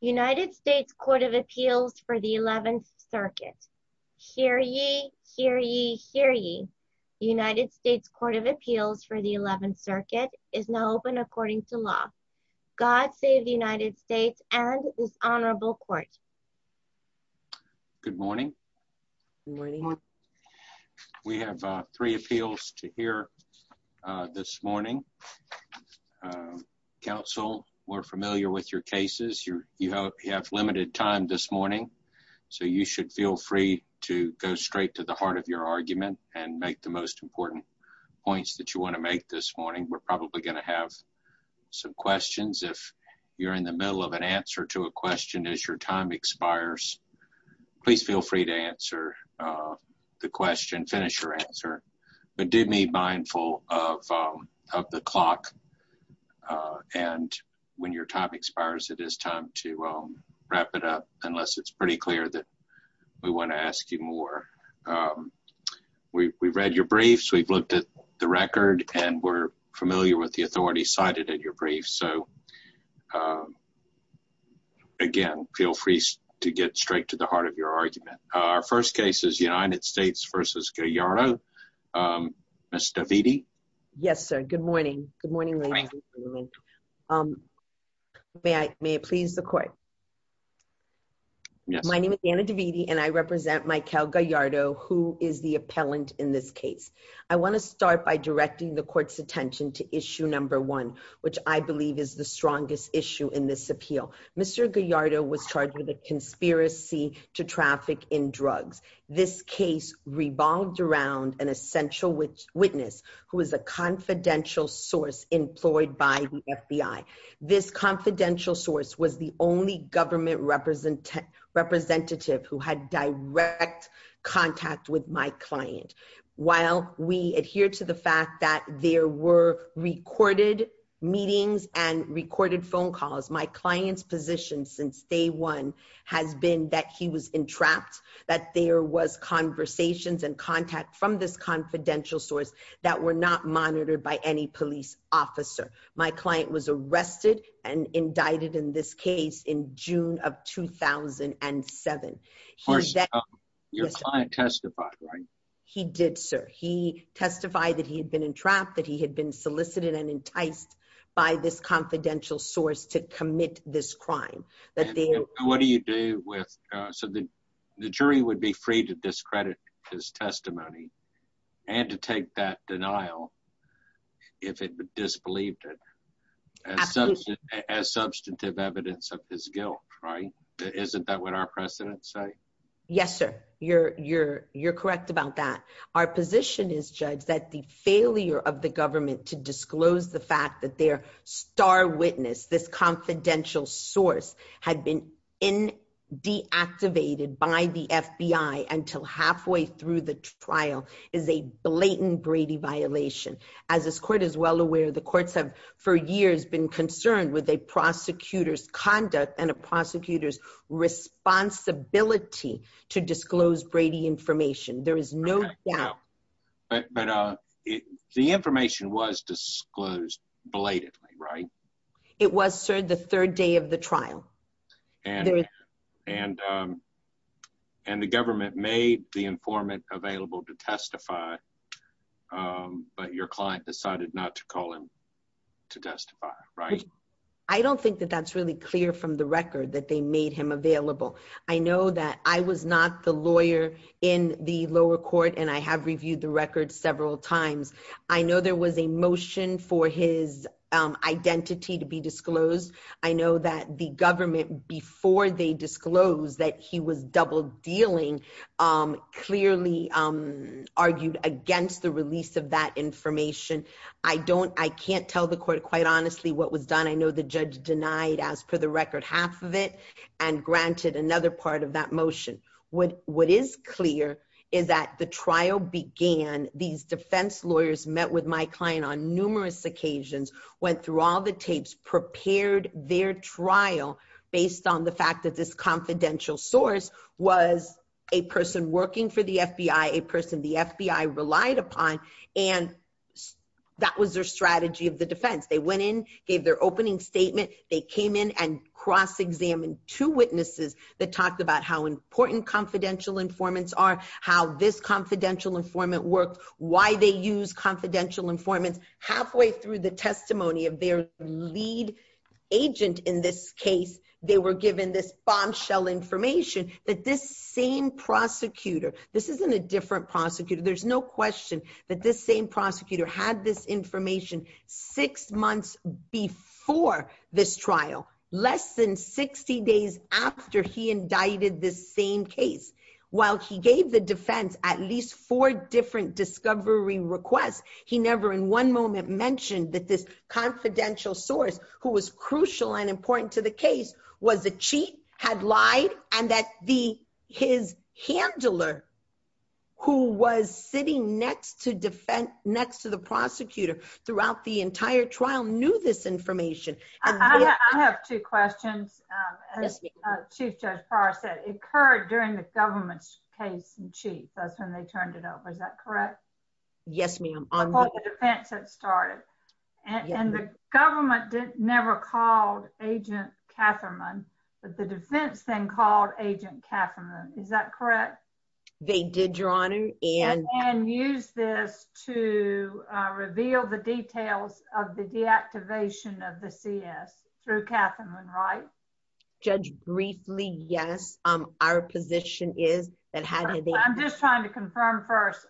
United States Court of Appeals for the 11th Circuit. Hear ye, hear ye, hear ye. United States Court of Appeals for the 11th Circuit is now open according to law. God save the United States and this honorable court. Good morning. Good morning. We have three appeals to hear this morning. Counsel, we're familiar with your cases. You have limited time this morning, so you should feel free to go straight to the heart of your argument and make the most important points that you want to make this morning. We're probably going to have some questions. If you're in the middle of an answer to a question as your time expires, please feel free to answer the question, finish your answer. But do be mindful of the clock. And when your time expires, it is time to wrap it up, unless it's pretty clear that we want to ask you more. We read your briefs. We've looked at the record and we're familiar with the authority cited in your brief. So, again, feel free to get straight to the heart of your argument. Our first case is United States versus Gallardo. Ms. Davidi. Yes, sir. Good morning. Good morning. May I please the court. My name is Anna Davidi and I represent Mikel Gallardo, who is the appellant in this case. I want to start by directing the court's attention to issue number one, which I believe is the strongest issue in this appeal. Mr. Gallardo was charged with a conspiracy to traffic in drugs. This case revolved around an essential witness who was a confidential source employed by the FBI. This confidential source was the only government representative who had direct contact with my client. While we adhere to the fact that there were recorded meetings and recorded phone calls, my client's position since day one has been that he was entrapped, that there was conversations and contact from this confidential source that were not monitored by any police officer. My client was arrested and indicted in this case in June of 2007. Your client testified, right? He did, sir. He testified that he had been entrapped, that he had been solicited and enticed by this confidential source to commit this crime. What do you do with, uh, so the jury would be free to discredit his testimony and to take that denial if it disbelieved it as substantive evidence of his guilt, right? Isn't that what our precedents say? Yes, sir. You're, you're, you're correct about that. Our position is judged that the failure of the government to disclose the fact that their star witness, this confidential source had been in deactivated by the FBI until halfway through the trial is a blatant Brady violation. As this court is well aware, the courts have for years been concerned with a prosecutor's conduct and a prosecutor's responsibility to disclose Brady information. There is no doubt. But, but, uh, it, the information was disclosed belatedly, right? It was served the third day of the trial. And, and, um, and the government made the informant available to testify. Um, but your client decided not to call him to testify. Right. I don't think that that's really clear from the record that they made him available. I know that I was not the lawyer in the lower court and I have reviewed the record several times. I know there was a motion for his identity to be disclosed. I know that the government, before they disclosed that he was double dealing, um, clearly, um, argued against the release of that information. I don't, I can't tell the court quite honestly what was done. I know the judge denied as per the record, that that information was disclosed. I just, I know that the government made half of it. And granted another part of that motion would, what is clear is that the trial began these defense lawyers met with my client on numerous occasions. Went through all the tapes, prepared their trial based on the fact that this confidential source was a person working for the FBI, a person, the FBI relied upon and that was their strategy of the defense. They went in, gave their opening statement. They came in and cross-examined two witnesses that talked about how important confidential informants are, how this confidential informant worked, why they use confidential informants halfway through the testimony of their client. And they were given this bombshell information that this same prosecutor, this isn't a different prosecutor. There's no question that this same prosecutor had this information six months before this trial, less than 60 days after he indicted this same case. While he gave the defense at least four different discovery requests, confidential informant. And that this confidential source who was crucial and important to the case was a cheat had lied. And that the, his handler who was sitting next to defend next to the prosecutor throughout the entire trial, knew this information. I have two questions. Chief judge. It occurred during the government's case in chief. That's when they turned it over. Is that correct? Yes, ma'am. It started. And the government did never called agent Catherine. But the defense thing called agent Catherine. Is that correct? They did your honor. And use this to reveal the details of the deactivation of the CS through Catherine. Right. Judge briefly. Yes. Our position is. I'm just trying to confirm first.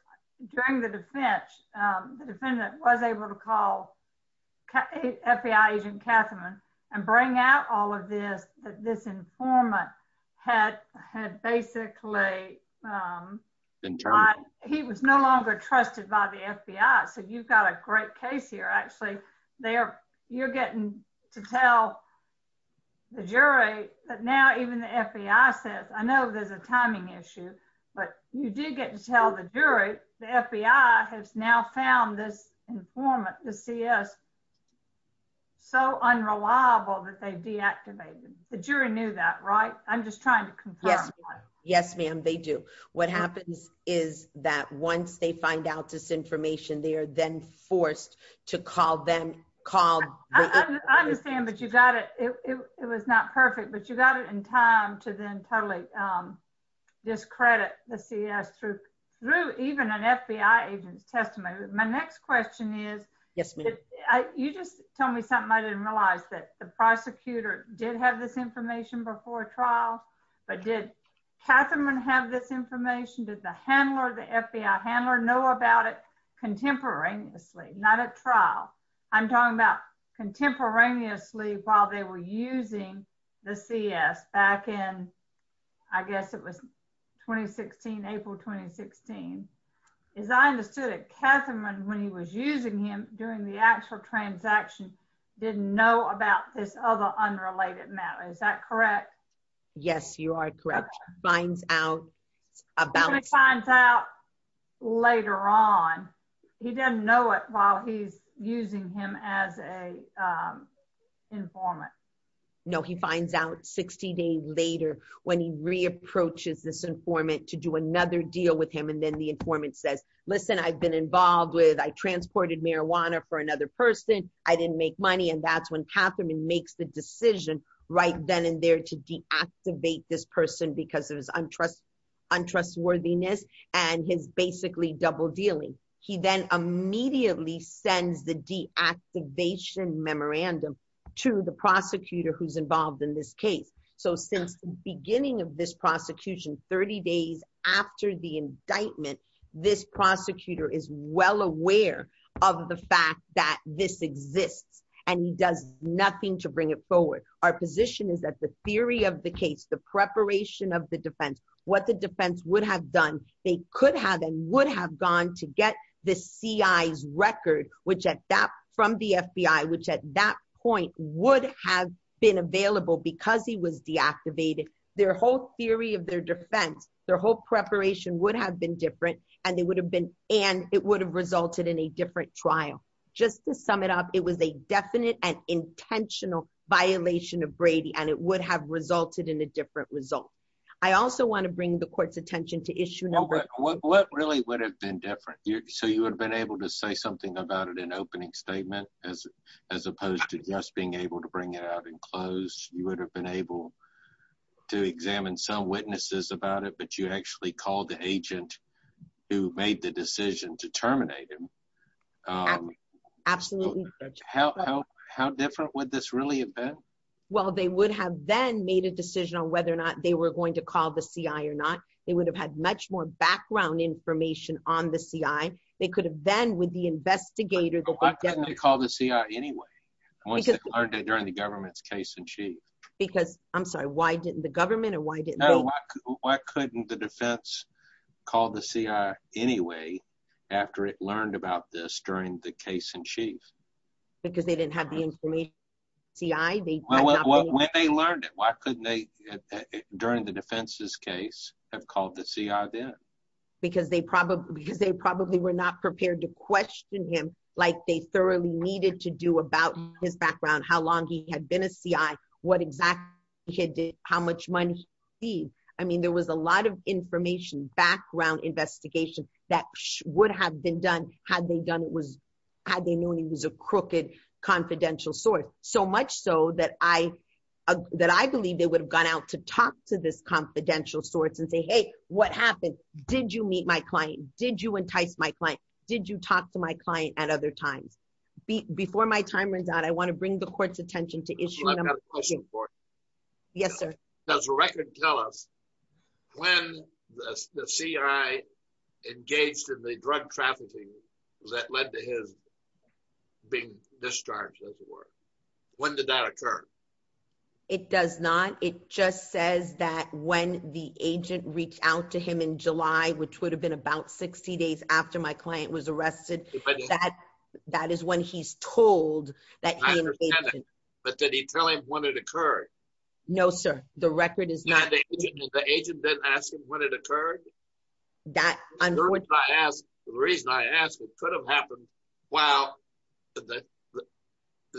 During the defense. The defendant was able to call. FBI agent Catherine. And bring out all of this, that this informant. Had had basically. He was no longer trusted by the FBI. So you've got a great case here, actually. They are. You're getting to tell. The jury that now even the FBI says, I know there's a timing issue. But you did get to tell the jury. The FBI has now found this informant. The CS. So unreliable that they deactivated. The jury knew that, right? I'm just trying to confirm. Yes, ma'am. They do. What happens is that once they find out this information, They are then forced to call them. Call. I understand, but you got it. It was not perfect, but you got it in time to then totally. This credit, the CS through. Through even an FBI agent's testimony. My next question is. Yes, ma'am. Okay. You just tell me something. I didn't realize that the prosecutor did have this information before trial. But did Catherine have this information? Did the handler, the FBI handler know about it? Contemporaneously, not a trial. I'm talking about contemporaneously while they were using the CS back in. I guess it was 2016, April, 2016. As I understood it, Catherine when he was using him during the actual transaction. Didn't know about this other unrelated matter. Is that correct? Yes, you are correct. Finds out. About signs out. Later on. He doesn't know it while he's using him as a. Informant. He doesn't know. He finds out 60 days later. When he reapproaches this informant to do another deal with him. And then the informant says, listen, I've been involved with, I transported marijuana for another person. I didn't make money. And that's when Catherine makes the decision. Right then and there to deactivate this person because of his untrust. And he's basically double dealing. He then immediately sends the D activation memorandum. To the prosecutor who's involved in this case. So since the beginning of this prosecution, 30 days. After the indictment, this prosecutor is well aware. Of the fact that this exists and he does nothing to bring it forward. Our position is that the theory of the case, the preparation of the defense, what the defense would have done. They could have and would have gone to get the CIs record, which at that from the FBI, which at that point would have been available because he was deactivated. Their whole theory of their defense, their whole preparation would have been different and they would have gone to get the CIs record. And they would have gone to get the D activation memorandum. And it would have resulted in a different trial. Just to sum it up. It was a definite and intentional. Violation of Brady and it would have resulted in a different result. I also want to bring the court's attention to issue. What really would have been different. So you would have been able to say something about it in opening statement. As opposed to just being able to bring it out in close, you would have been able to examine some witnesses about it, but you actually called the agent. Who made the decision to terminate him? Absolutely. How different would this really have been? Well, they would have then made a decision on whether or not they were going to call the CI or not. They would have had much more background information on the CI. They could have been with the investigator. Call the CI anyway. I'm sorry. I'm sorry. During the government's case in chief. Because I'm sorry. Why didn't the government or why didn't. Why couldn't the defense. Call the CI anyway. After it learned about this during the case in chief. Because they didn't have the information. CI. When they learned it, why couldn't they. During the defense's case have called the CI then. Why didn't they call the CI? Because they probably because they probably were not prepared to question him. Like they thoroughly needed to do about his background, how long he had been a CI, what exact. How much money. I mean, there was a lot of information background investigation. That would have been done. Had they done it was. Had they known he was a crooked confidential source so much so that I. That I believe they would have gone out to talk to this confidential source and say, Hey, what happened? Did you meet my client? Did you entice my client? Did you talk to my client at other times? Before my time runs out, I want to bring the court's attention to issue. Yes, sir. That's a record. Tell us. When. The CI. Engaged in the drug trafficking. That led to his. Being discharged. When did that occur? It does not. It just says that when the agent reached out to him in July, which would have been about 60 days after my client was arrested. That is when he's told that. But did he tell him when it occurred? No, sir. The record is not. The agent didn't ask him when it occurred. That. The reason I asked, it could have happened. Wow. The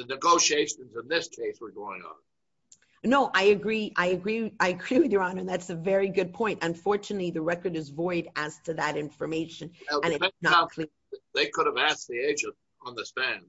negotiations in this case. We're going on. No, I agree. I agree. I agree with your honor. That's a very good point. Unfortunately, the record is void as to that information. They could have asked the agent. On the span.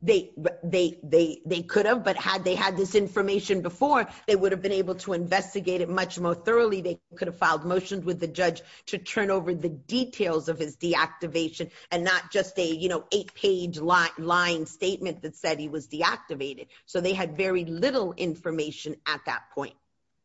They, they, they, they could have, but had, they had this information before they would have been able to investigate it much more thoroughly. They could have filed motions with the judge to turn over the details of his deactivation and not just a, you know, eight page lot line statement. That said he was deactivated. So they had very little information at that point.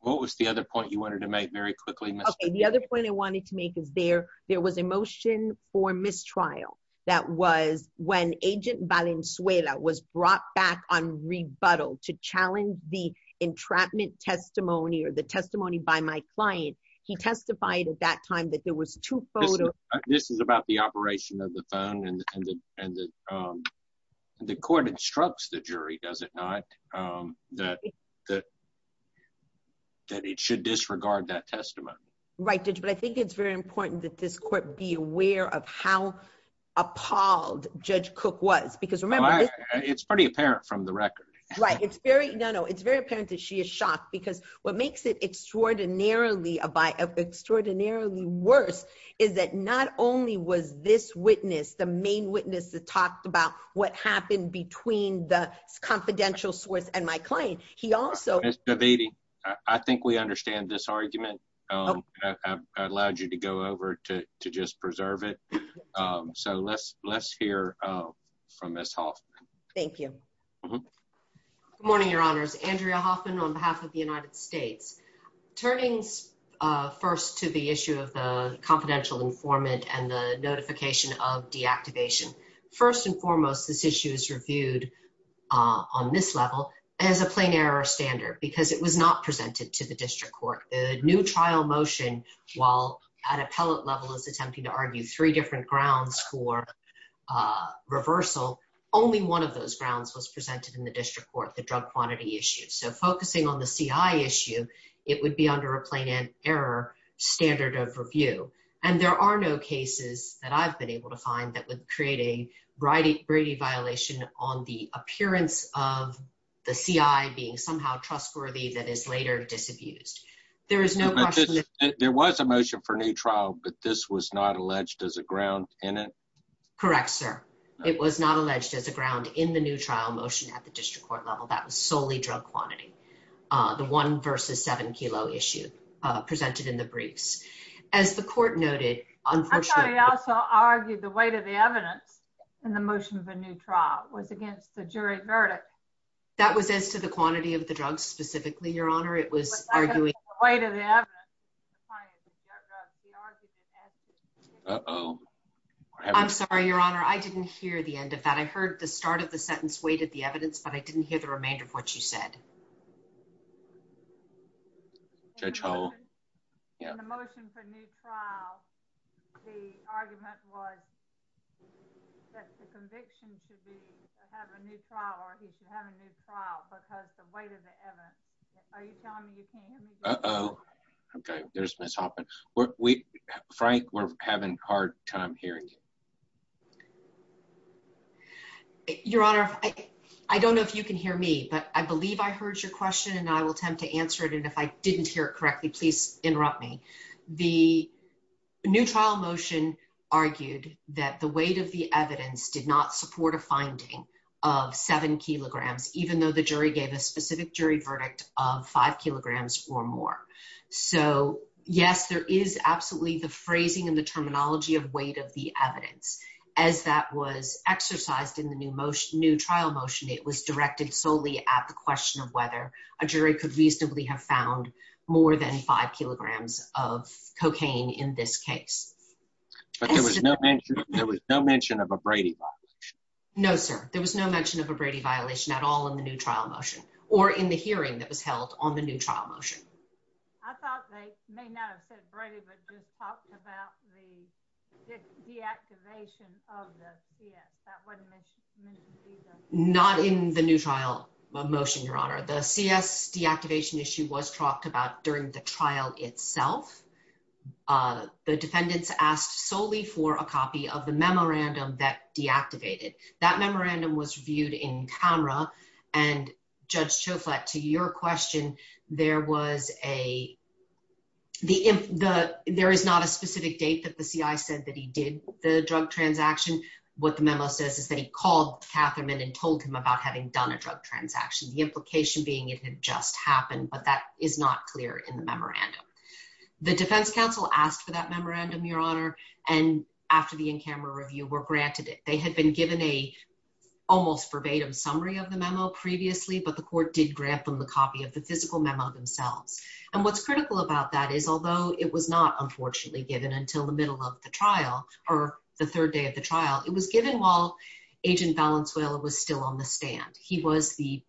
What was the other point you wanted to make very quickly? The other point I wanted to make is there, there was a motion for mistrial. That was when agent Valenzuela was brought back on rebuttal to challenge the entrapment testimony or the testimony by my client, he testified at that time that there was two photos. This is about the operation of the phone and the, and the, and the, and the court instructs the jury, does it not? That that. That it should disregard that testimony. Right. I'm not sure how appalled judge cook was because remember. It's pretty apparent from the record. Right. It's very, no, no, it's very apparent that she is shocked because. What makes it extraordinarily a by extraordinarily worse is that not only was this witness, the main witness that talked about what happened between the confidential source and my client, he also. I think we understand this argument. I allowed you to go over to, to just preserve it. So let's, let's hear from this. Thank you. Morning, your honors, Andrea Hoffman on behalf of the United States. Attorney's first to the issue of the confidential informant and the notification of deactivation. First and foremost, this issue is reviewed on this level as a plain error standard, because it was not presented to the district court, the new trial motion while at appellate level is attempting to argue three different grounds for reversal. Only one of those grounds was presented in the district court, the drug quantity issue. So focusing on the CI issue, it would be under a plain and error standard of review. And there are no cases that I've been able to find that would create a writing Brady violation on the appearance of. The CI being somehow trustworthy that is later disabused. There is no question. There was a motion for a new trial, but this was not alleged as a ground in it. Correct, sir. It was not alleged as a ground in the new trial motion at the district court level. That was solely drug quantity. The one versus seven kilo issue presented in the briefs as the court noted. Unfortunately also argued the weight of the evidence and the motion of a new trial was against the jury verdict. That was as to the quantity of the drugs specifically your honor. It was arguing. I'm sorry, your honor. I didn't hear the end of that. I heard the start of the sentence, weighted the evidence, but I didn't hear the remainder of what you said. Judge hole. Yeah. The motion for new trial. The argument was. That's the conviction should be. I have a new trial or he should have a new trial because the weight of the evidence. Are you telling me you can't. Oh, okay. There's miss hopping. I don't know if you can hear me, but I believe I heard your question. And I will attempt to answer it. And if I didn't hear it correctly, please interrupt me. The. New trial motion. Argued that the weight of the evidence did not support a finding of seven kilograms. Even though the jury gave a specific jury verdict of five kilograms or more. So yes, there is absolutely the phrasing and the terminology of weight of the evidence. As that was exercised in the new motion, new trial motion. It was directed solely at the question of whether a jury could reasonably have found more than five kilograms of cocaine in this case. There was no mention of a Brady box. No, sir. There was no mention of a Brady violation at all in the new trial motion or in the hearing that was held on the new trial motion. I thought they may not have said Brady, but just talked about the. Deactivation of the. Not in the new trial motion, your honor, the CS deactivation issue was talked about during the trial itself. The defendants asked solely for a copy of the memorandum that deactivated. That memorandum was viewed in camera and judge show flat to your question. There was a. The, the, there is not a specific date that the CI said that he did the drug transaction. What the memo says is that he called Catherine and told him about having done a drug transaction. The implication being, it had just happened, but that is not clear in the memorandum. The defense council asked for that memorandum, your honor. And after the in-camera review were granted it, they had been given a almost verbatim summary of the memo previously, but the court did grant them the copy of the physical memo themselves. And what's critical about that is, although it was not unfortunately given until the middle of the trial or the third day of the trial, it was given while agent Valenzuela was still on the stand. He was the.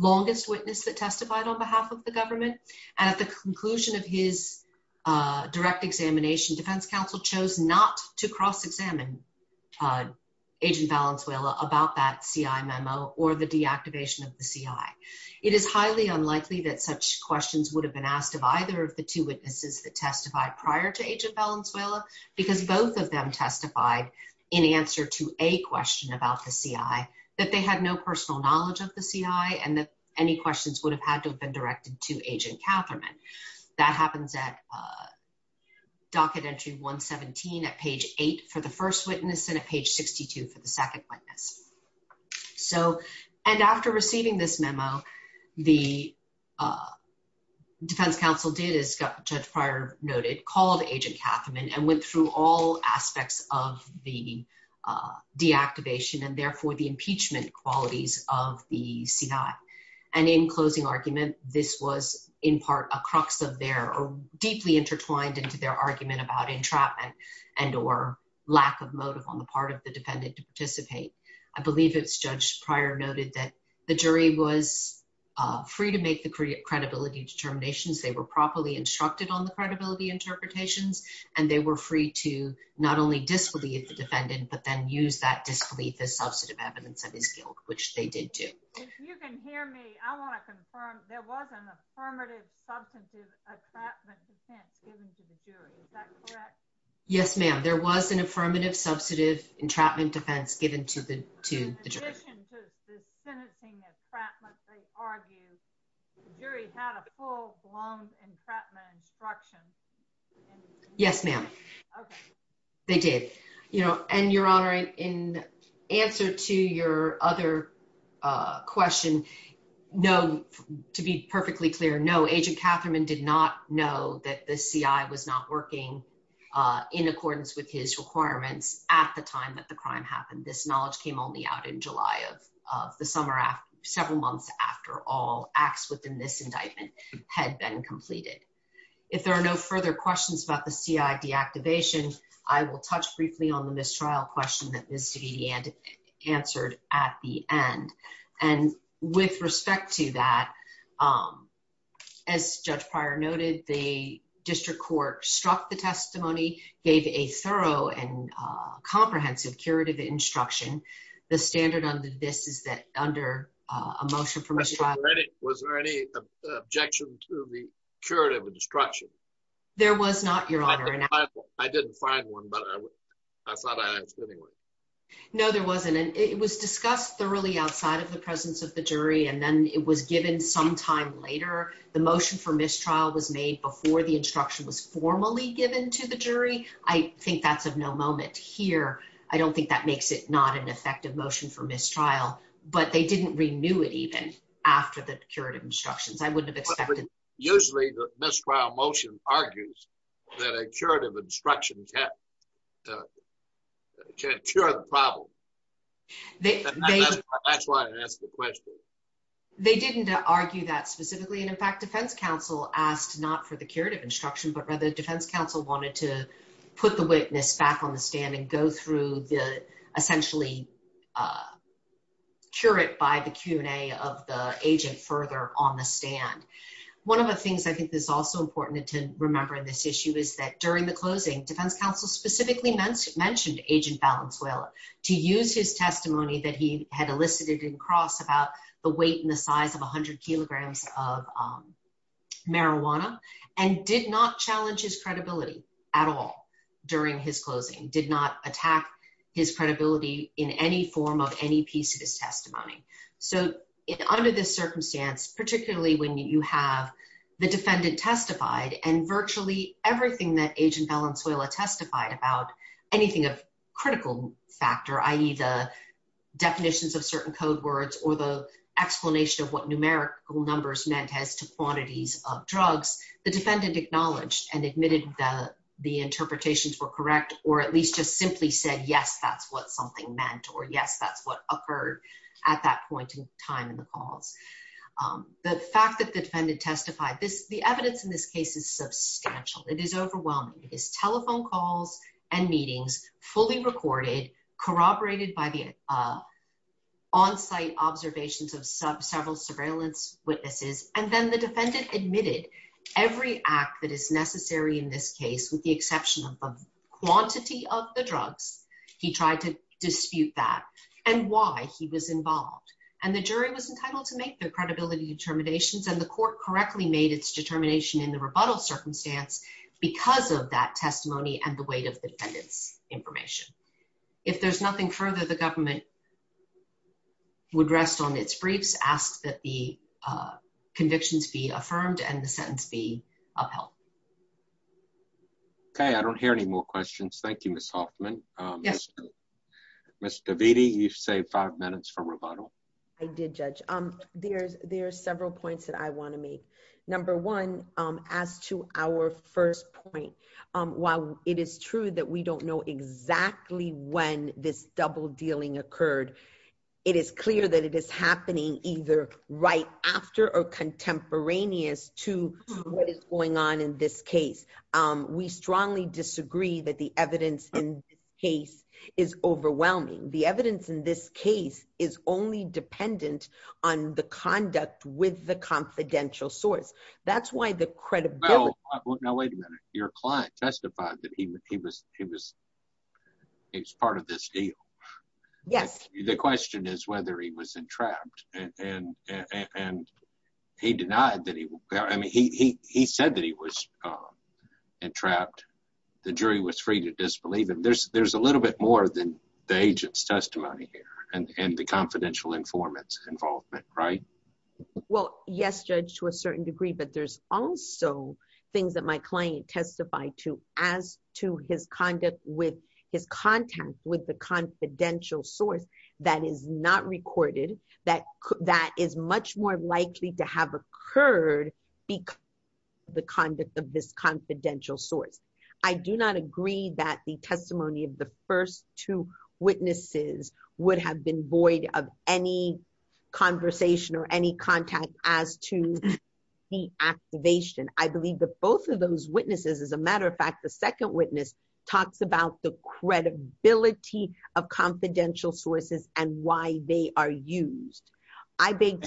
Longest witness that testified on behalf of the government. And at the conclusion of his direct examination, Defense counsel chose not to cross-examine. Agent Valenzuela about that CI memo or the deactivation of the CI. It is highly unlikely that such questions would have been asked of either of the two witnesses that testified prior to agent Valenzuela, because both of them testified in answer to a question about the CI, that they had no personal knowledge of the CI and that any questions would have had to have been directed to agent Catherman. That happens at. Docket entry one 17 at page eight for the first witness and at page 62 for the second witness. So, and after receiving this memo, the. Defense counsel did as judge prior noted called agent Catherman and went through all aspects of the deactivation and therefore the impeachment qualities of the CI. And in closing argument, this was in part, a crux of their deeply intertwined into their argument about entrapment and, or lack of motive on the part of the defendant to participate. I believe it's judge prior noted that the jury was free to make the credibility determinations. They were properly instructed on the credibility interpretations, and they were free to not only disbelieve the defendant, but then use that disbelief as substantive evidence of his guilt, which they did do. You can hear me. I want to confirm. There was an affirmative substantive. Yes, ma'am. There was an affirmative, substantive entrapment defense given to the two. Yes, ma'am. They did, you know, and your honor in answer to your other, question. No, to be perfectly clear. No, agent Catherman did not know that the CI was not working in accordance with his requirements at the time that the crime happened. This knowledge came only out in July of, of the summer. Several months after all acts within this indictment had been completed. If there are no further questions about the CI deactivation, I will touch briefly on the mistrial question that is to be answered at the end. And with respect to that, as judge prior noted, the district court struck the testimony, gave a thorough and comprehensive curative instruction. The standard under this is that under a motion from. Was there any objection to the curative instruction? There was not your honor. I didn't find one, but I thought I asked anyway. No, there wasn't. And it was discussed thoroughly outside of the presence of the jury. And then it was given some time later, the motion for mistrial was made before the instruction was formally given to the jury. I think that's of no moment here. I don't think that makes it not an effective motion for mistrial, but they didn't renew it even after the curative instructions, I wouldn't have expected. Usually the mistrial motion argues that a curative instruction can, can cure the problem. They didn't argue that specifically. And in fact, defense counsel asked not for the curative instruction, but rather the defense counsel wanted to put the witness back on the stand and go through the essentially curate by the Q and a of the agent further on the stand. One of the things I think that's also important to remember in this issue is that during the closing defense counsel specifically mentioned mentioned agent balance, will to use his testimony that he had elicited in cross about the weight and the size of a hundred kilograms of marijuana and did not challenge his credibility at all during his closing, did not attack his credibility in any form of any piece of his testimony. So under this circumstance, particularly when you have the defendant testified and virtually everything that agent balance will testify about anything of critical factor, I either definitions of certain code words or the explanation of what numerical numbers meant as to quantities of drugs, the defendant acknowledged and admitted the, the interpretations were correct, or at least just simply said, yes, that's what something meant, or yes, that's what occurred at that point in time in the calls. The fact that the defendant testified this, the evidence in this case is substantial. It is overwhelming. It is telephone calls and meetings fully recorded corroborated by the onsite observations of several surveillance witnesses. And then the defendant admitted every act that is necessary in this case, with the exception of quantity of the drugs, he tried to dispute that and why he was involved. And the jury was entitled to make their credibility determinations and the testimony and the weight of the defendant's information. If there's nothing further, the government would rest on its briefs, ask that the convictions be affirmed and the sentence be upheld. Okay. I don't hear any more questions. Thank you, Ms. Hoffman. Mr. Davidi, you've saved five minutes from rebuttal. I did judge. There's, there are several points that I want to make. Number one, as to our first point while it is true that we don't know exactly when this double dealing occurred, it is clear that it is happening either right after or contemporaneous to what is going on in this case. We strongly disagree that the evidence in this case is overwhelming. The evidence in this case is only dependent on the conduct with the credibility. Now wait a minute. Your client testified that he was, he was, he was part of this deal. Yes. The question is whether he was entrapped and, and, and he denied that he, I mean, he, he, he said that he was entrapped. The jury was free to disbelieve him. There's, there's a little bit more than the agent's testimony here and, and the confidential informants involvement, right? Well, yes, judge, to a certain degree, but there's also things that my client testified to as to his conduct with his contact with the confidential source that is not recorded, that, that is much more likely to have occurred because the conduct of this confidential source. I do not agree that the testimony of the first two witnesses would have been void of any conversation or any contact as to the activation. I believe that both of those witnesses, as a matter of fact, the second witness talks about the credibility of confidential sources and why they are used. I think.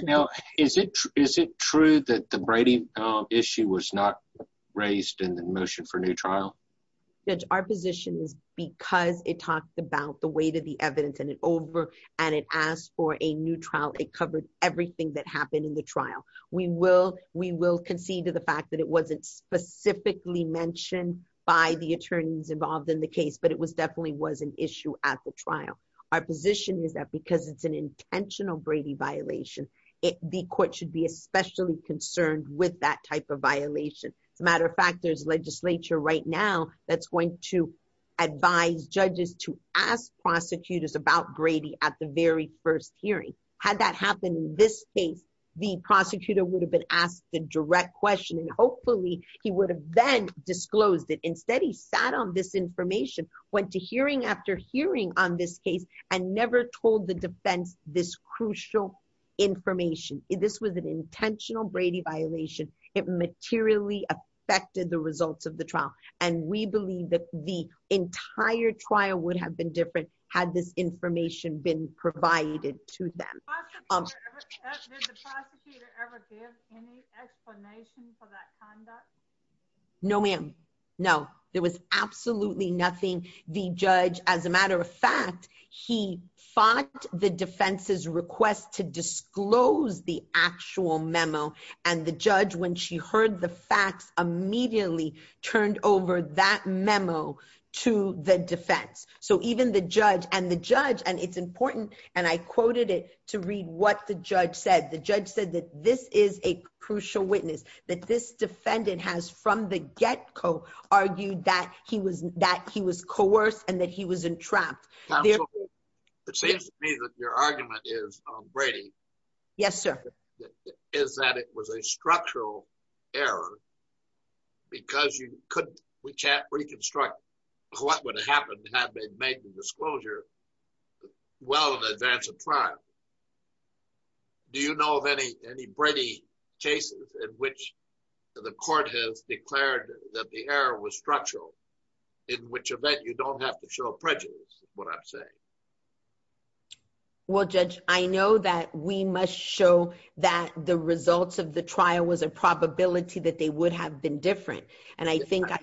Is it, is it true that the Brady issue was not raised in the motion for new trial? Our position is because it talks about the weight of the evidence and it over and it asked for a new trial. It covered everything that happened in the trial. We will, we will concede to the fact that it wasn't specifically mentioned by the attorneys involved in the case, but it was definitely was an issue at the trial. Our position is that because it's an intentional Brady violation, it be court should be especially concerned with that type of violation. As a matter of fact, there's legislature right now that's going to advise judges to ask prosecutors about Brady at the very first hearing had that happened in this case, the prosecutor would have been asked the direct question. And hopefully he would have then disclosed it. Instead he sat on this information, went to hearing after hearing on this case and never told the defense this crucial information. This was an intentional Brady violation. It materially affected the results of the trial. And we believe that the entire trial would have been different had this information been provided to them. No, ma'am. No, there was absolutely nothing. The judge, as a matter of fact, he fought the defense's request to disclose the actual memo. And the judge, when she heard the facts, immediately turned over that memo to the defense. So even the judge and the judge, and it's important. And I quoted it to read what the judge said. The judge said that this is a crucial witness that this defendant has from the get go argued that he was, that he was coerced and that he was entrapped. It seems to me that your argument is Brady. Yes, sir. Is that it was a structural error because you couldn't, we can't reconstruct what would have happened had they made the disclosure well in advance of trial. Do you know of any, any Brady cases in which the court has declared that the error was structural in which event you don't have to show prejudice is what I'm saying. Well, judge, I know that we must show that the results of the trial was a probability that they would have been different. And I think that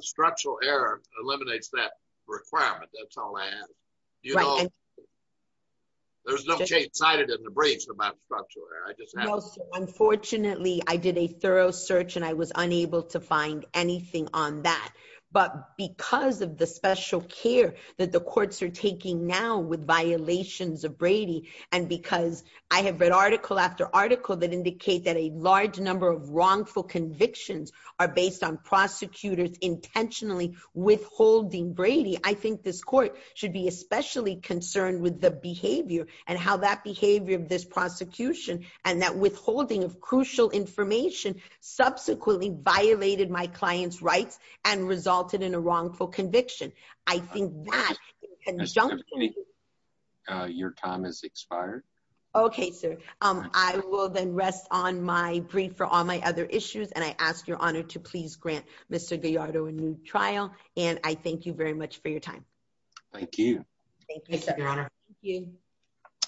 structural error eliminates that requirement. That's all I have. There was no change cited in the briefs about structural error. Unfortunately, I did a thorough search and I was unable to find anything on that, but because of the special care that the courts are taking now with violations of Brady. And because I have read article after article that indicate that a large number of wrongful convictions are based on prosecutors intentionally withholding Brady. I think this court should be especially concerned with the behavior and how that behavior of this prosecution and that withholding of crucial information subsequently violated my client's rights and resulted in a wrongful conviction. I think that your time has expired. Okay, sir. I will then rest on my brief for all my other issues. And I ask your honor to please grant Mr. Gallardo a new trial. And I thank you very much for your time. Thank you.